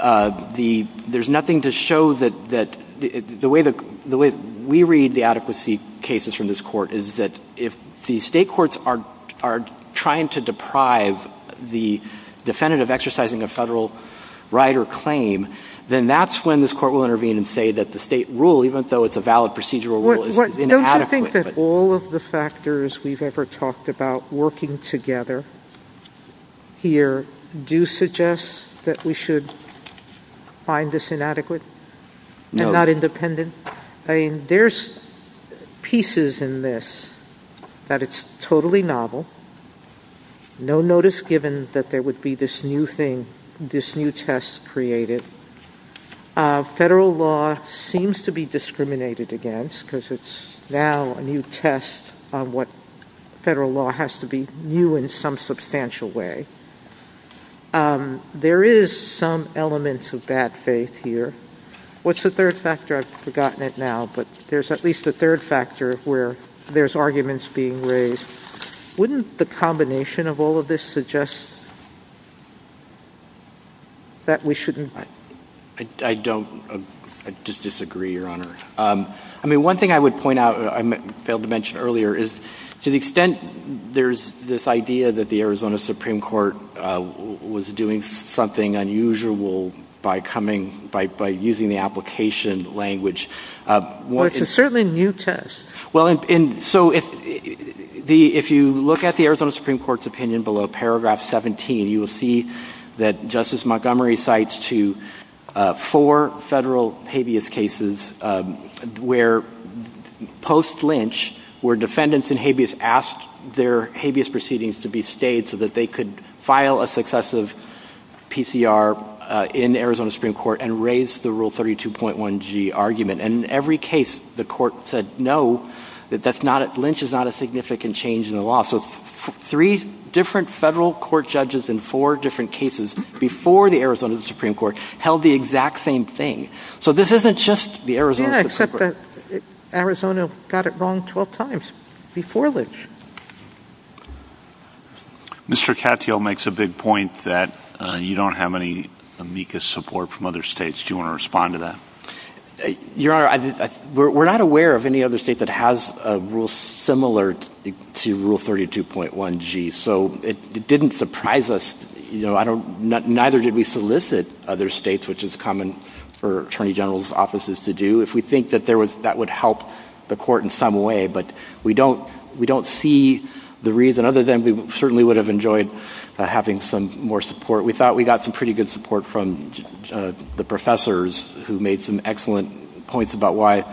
there's nothing to show that the way we read the adequacy cases from this Court is that if the state courts are trying to deprive the defendant of exercising a federal right or claim, then that's when this Court will intervene and say that the state rule, even though it's a valid procedural rule, is inadequate. Do you think that all of the factors we've ever talked about working together here do suggest that we should find this inadequate? No. And not independent? I mean, there's pieces in this that it's totally novel. No notice given that there would be this new thing, this new test created. Federal law seems to be discriminated against because it's now a new test on what federal law has to be new in some substantial way. There is some elements of bad faith here. What's the third factor? I've forgotten it now, but there's at least a third factor where there's arguments being raised. Wouldn't the combination of all of this suggest that we shouldn't? I don't. I just disagree, Your Honor. I mean, one thing I would point out, I failed to mention earlier, is to the extent there's this idea that the Arizona Supreme Court was doing something unusual by using the application language. Well, it's a certainly new test. Well, so if you look at the Arizona Supreme Court's opinion below paragraph 17, you will see that Justice Montgomery cites to four federal habeas cases where, post-Lynch, where defendants in habeas asked their habeas proceedings to be stayed so that they could file a successive PCR in Arizona Supreme Court and raise the Rule 32.1g argument. And in every case, the court said no, that Lynch is not a significant change in the law. So three different federal court judges in four different cases before the Arizona Supreme Court held the exact same thing. So this isn't just the Arizona Supreme Court. Yeah, except that Arizona got it wrong 12 times before Lynch. Mr. Katyal makes a big point that you don't have any amicus support from other states. Do you want to respond to that? Your Honor, we're not aware of any other state that has a rule similar to Rule 32.1g. So it didn't surprise us. Neither did we solicit other states, which is common for attorney general's offices to do, if we think that that would help the court in some way. But we don't see the reason, other than we certainly would have enjoyed having some more support. We thought we got some pretty good support from the professors who made some excellent points about why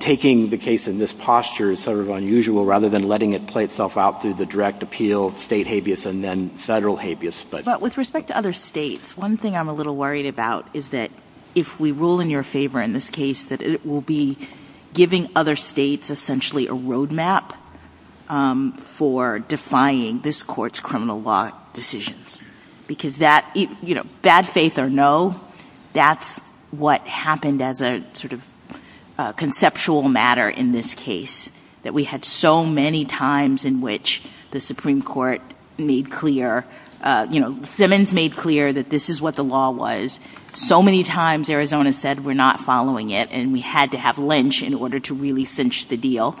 taking the case in this posture is sort of unusual, rather than letting it play itself out through the direct appeal, state habeas, and then federal habeas. But with respect to other states, one thing I'm a little worried about is that if we rule in your favor in this case, that it will be giving other states essentially a roadmap for defying this court's criminal law decisions. Because that, you know, bad faith or no, that's what happened as a sort of conceptual matter in this case, that we had so many times in which the Supreme Court made clear, you know, and we had to have lynch in order to really cinch the deal.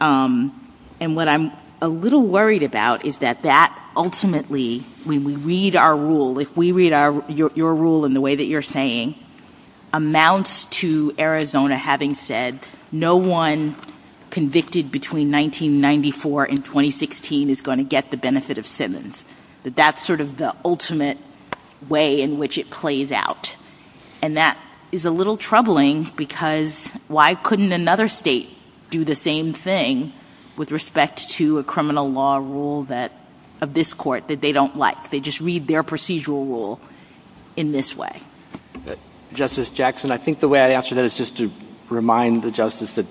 And what I'm a little worried about is that that ultimately, when we read our rule, if we read your rule in the way that you're saying, amounts to Arizona having said, no one convicted between 1994 and 2016 is going to get the benefit of Simmons. That that's sort of the ultimate way in which it plays out. And that is a little troubling because why couldn't another state do the same thing with respect to a criminal law rule that, of this court, that they don't like? They just read their procedural rule in this way. Justice Jackson, I think the way I'd answer that is just to remind the Justice that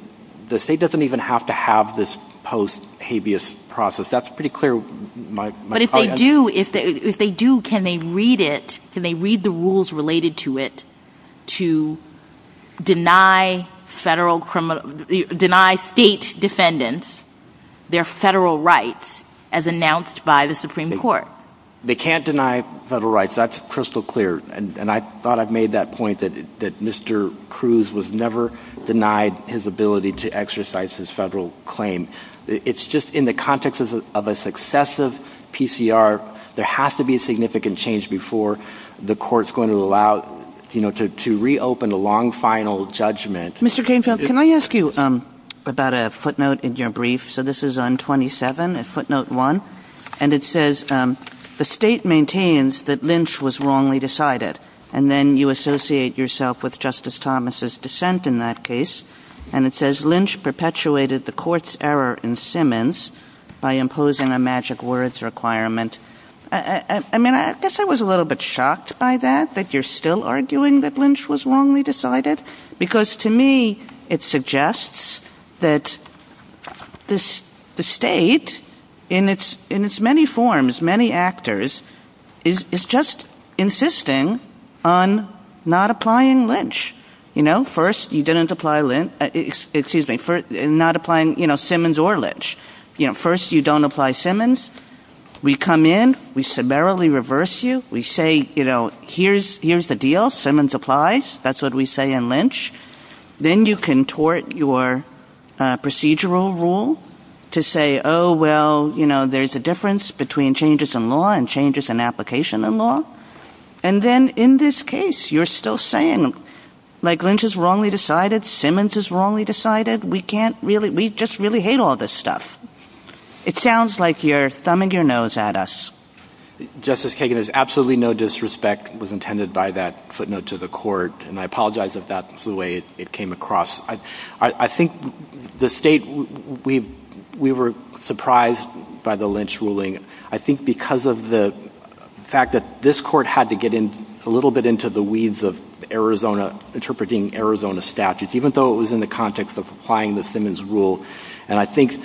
the state doesn't even have to have this post-habeas process. That's pretty clear. But if they do, can they read it? Can they read the rules related to it to deny state defendants their federal rights as announced by the Supreme Court? They can't deny federal rights. That's crystal clear. And I thought I made that point that Mr. Cruz was never denied his ability to exercise his federal claim. It's just in the context of a successive PCR, there has to be a significant change before the court's going to allow, you know, to reopen a long final judgment. Mr. Canfield, can I ask you about a footnote in your brief? So this is on 27, footnote 1. And it says, the state maintains that Lynch was wrongly decided. And then you associate yourself with Justice Thomas' dissent in that case. And it says Lynch perpetuated the court's error in Simmons by imposing a magic words requirement. I mean, I guess I was a little bit shocked by that, that you're still arguing that Lynch was wrongly decided. Because to me, it suggests that the state, in its many forms, many actors, is just insisting on not applying Lynch. You know, first you didn't apply Lynch, excuse me, not applying, you know, Simmons or Lynch. You know, first you don't apply Simmons. We come in, we summarily reverse you. We say, you know, here's the deal, Simmons applies. That's what we say in Lynch. Then you can tort your procedural rule to say, oh, well, you know, there's a difference between changes in law and changes in application in law. And then in this case, you're still saying, like, Lynch is wrongly decided, Simmons is wrongly decided. We can't really, we just really hate all this stuff. It sounds like you're thumbing your nose at us. Justice Kagan, there's absolutely no disrespect was intended by that footnote to the court. And I apologize if that's the way it came across. I think the state, we were surprised by the Lynch ruling. I think because of the fact that this court had to get a little bit into the weeds of Arizona, interpreting Arizona statutes, even though it was in the context of applying the Simmons rule. And I think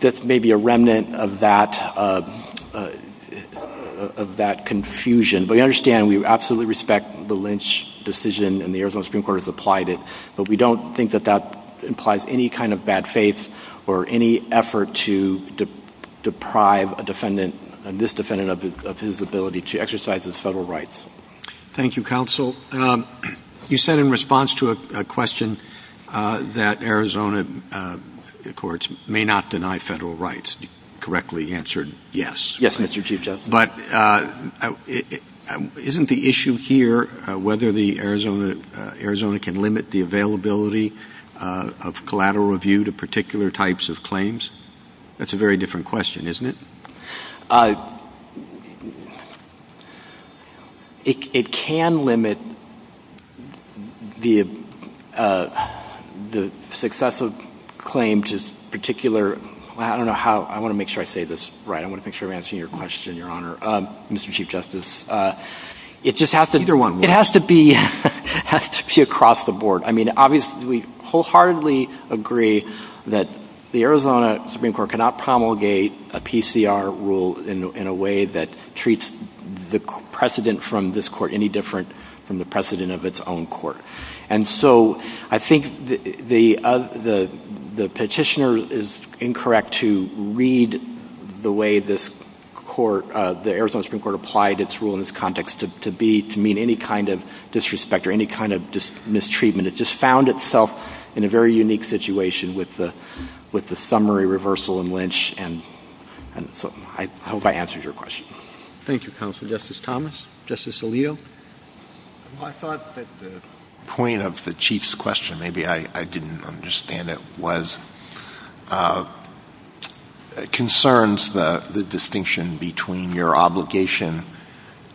that's maybe a remnant of that confusion. But we understand, we absolutely respect the Lynch decision and the Arizona Supreme Court has applied it. But we don't think that that implies any kind of bad faith or any effort to deprive a defendant, this defendant of his ability to exercise his federal rights. Thank you, counsel. You said in response to a question that Arizona courts may not deny federal rights. You correctly answered yes. Yes, Mr. Chief Justice. But isn't the issue here whether Arizona can limit the availability of collateral review to particular types of claims? That's a very different question, isn't it? It can limit the success of claim to particular, I don't know how, I want to make sure I say this right. I want to make sure I'm answering your question, Your Honor. Mr. Chief Justice, it just has to be across the board. I mean, obviously we wholeheartedly agree that the Arizona Supreme Court cannot promulgate a PCR rule in a way that treats the precedent from this court any different from the precedent of its own court. And so I think the petitioner is incorrect to read the way this court, the Arizona Supreme Court, applied its rule in this context to mean any kind of disrespect or any kind of mistreatment. It just found itself in a very unique situation with the summary reversal in Lynch. And so I hope I answered your question. Thank you, counsel. Justice Thomas? Justice Alito? Well, I thought that the point of the Chief's question, maybe I didn't understand it, was it concerns the distinction between your obligation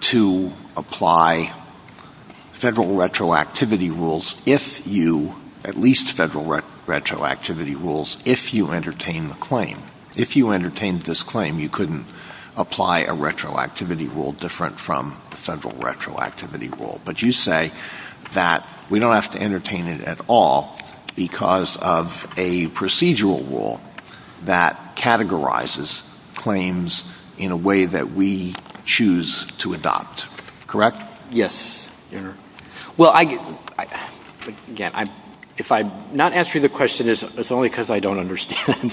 to apply Federal retroactivity rules if you, at least Federal retroactivity rules, if you entertain the claim. If you entertained this claim, you couldn't apply a retroactivity rule different from the Federal retroactivity rule. But you say that we don't have to entertain it at all because of a procedural rule that categorizes claims in a way that we choose to adopt, correct? Yes, Your Honor. Well, again, if I'm not answering the question, it's only because I don't understand.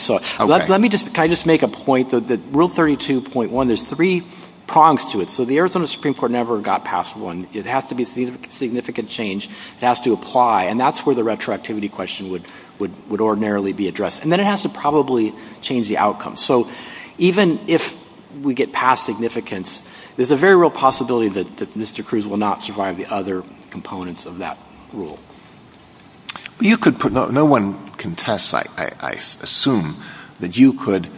Let me just make a point. Rule 32.1, there's three prongs to it. So the Arizona Supreme Court never got past one. It has to be a significant change. It has to apply. And that's where the retroactivity question would ordinarily be addressed. And then it has to probably change the outcome. So even if we get past significance, there's a very real possibility that Mr. Cruz will not survive the other components of that rule. No one contests, I assume, that you could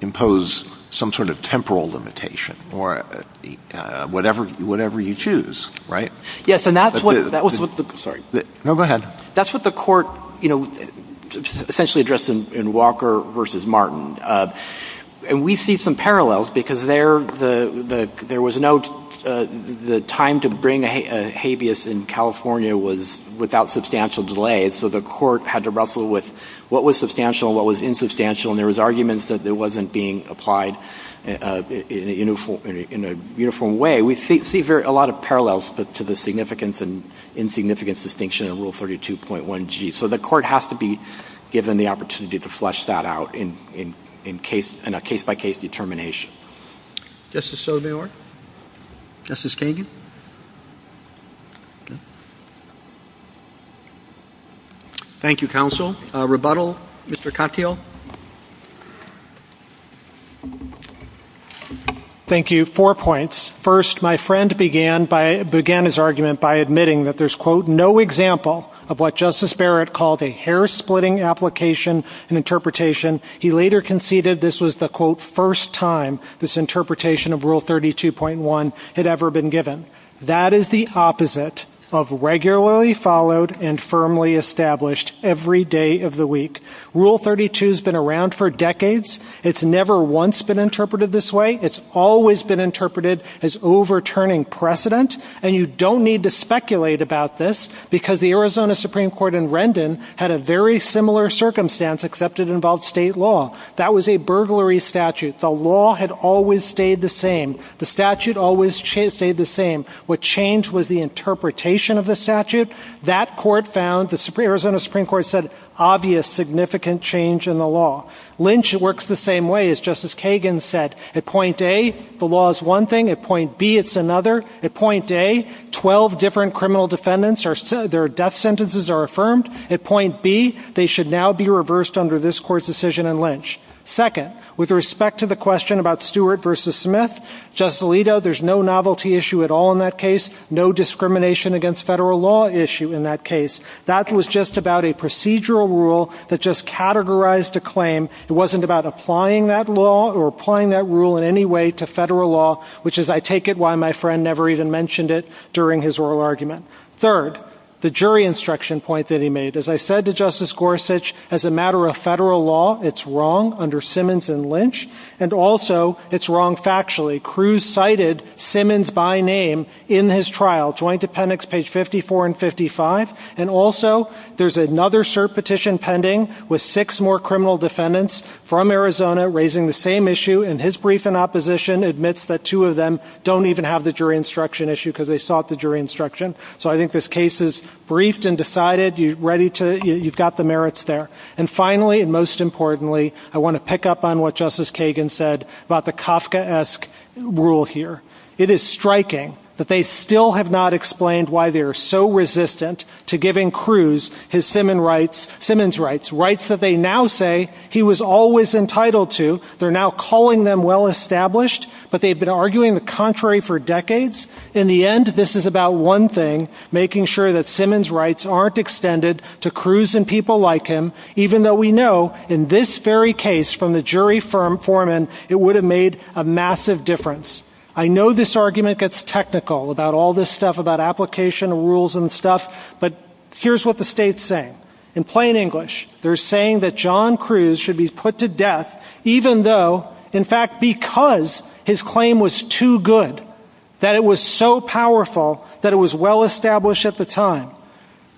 impose some sort of temporal limitation or whatever you choose, right? Yes, and that's what the court essentially addressed in Walker v. Martin. And we see some parallels because the time to bring a habeas in California was without substantial delay. So the court had to wrestle with what was substantial and what was insubstantial. And there was arguments that it wasn't being applied in a uniform way. We see a lot of parallels to the significance and insignificance distinction in Rule 32.1G. So the court has to be given the opportunity to flesh that out in a case-by-case determination. Justice Sotomayor? Justice Kagan? Thank you, Counsel. Rebuttal, Mr. Katyal? Thank you. Four points. First, my friend began his argument by admitting that there's, quote, no example of what Justice Barrett called a hair-splitting application and interpretation. He later conceded this was the, quote, first time this interpretation of Rule 32.1 had ever been given. That is the opposite of regularly followed and firmly established every day of the week. Rule 32 has been around for decades. It's never once been interpreted this way. It's always been interpreted as overturning precedent, and you don't need to speculate about this because the Arizona Supreme Court in Rendon had a very similar circumstance except it involved state law. That was a burglary statute. The law had always stayed the same. The statute always stayed the same. What changed was the interpretation of the statute. That court found, the Arizona Supreme Court said, obvious significant change in the law. Lynch works the same way, as Justice Kagan said. At point A, the law is one thing. At point B, it's another. At point A, 12 different criminal defendants, their death sentences are affirmed. At point B, they should now be reversed under this court's decision in Lynch. Second, with respect to the question about Stewart v. Smith, Justice Alito, there's no novelty issue at all in that case, no discrimination against federal law issue in that case. That was just about a procedural rule that just categorized a claim. It wasn't about applying that law or applying that rule in any way to federal law, which is, I take it, why my friend never even mentioned it during his oral argument. Third, the jury instruction point that he made. As I said to Justice Gorsuch, as a matter of federal law, it's wrong under Simmons and Lynch, and also it's wrong factually. Cruz cited Simmons by name in his trial, Joint Appendix page 54 and 55, and also there's another cert petition pending with six more criminal defendants from Arizona raising the same issue in his brief in opposition, admits that two of them don't even have the jury instruction issue because they sought the jury instruction. So I think this case is briefed and decided. You've got the merits there. And finally and most importantly, I want to pick up on what Justice Kagan said about the Kafkaesque rule here. It is striking that they still have not explained why they are so resistant to giving Cruz his Simmons rights, rights that they now say he was always entitled to. They're now calling them well-established, but they've been arguing the contrary for decades. In the end, this is about one thing, making sure that Simmons rights aren't extended to Cruz and people like him, even though we know in this very case from the jury foreman, it would have made a massive difference. I know this argument gets technical about all this stuff, about application rules and stuff, but here's what the state's saying. In plain English, they're saying that John Cruz should be put to death, even though, in fact, because his claim was too good, that it was so powerful that it was well-established at the time.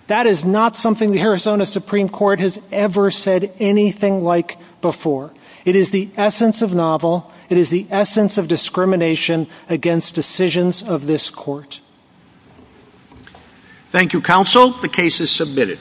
That is not something the Arizona Supreme Court has ever said anything like before. It is the essence of novel. It is the essence of discrimination against decisions of this court. Thank you, counsel. The case is submitted.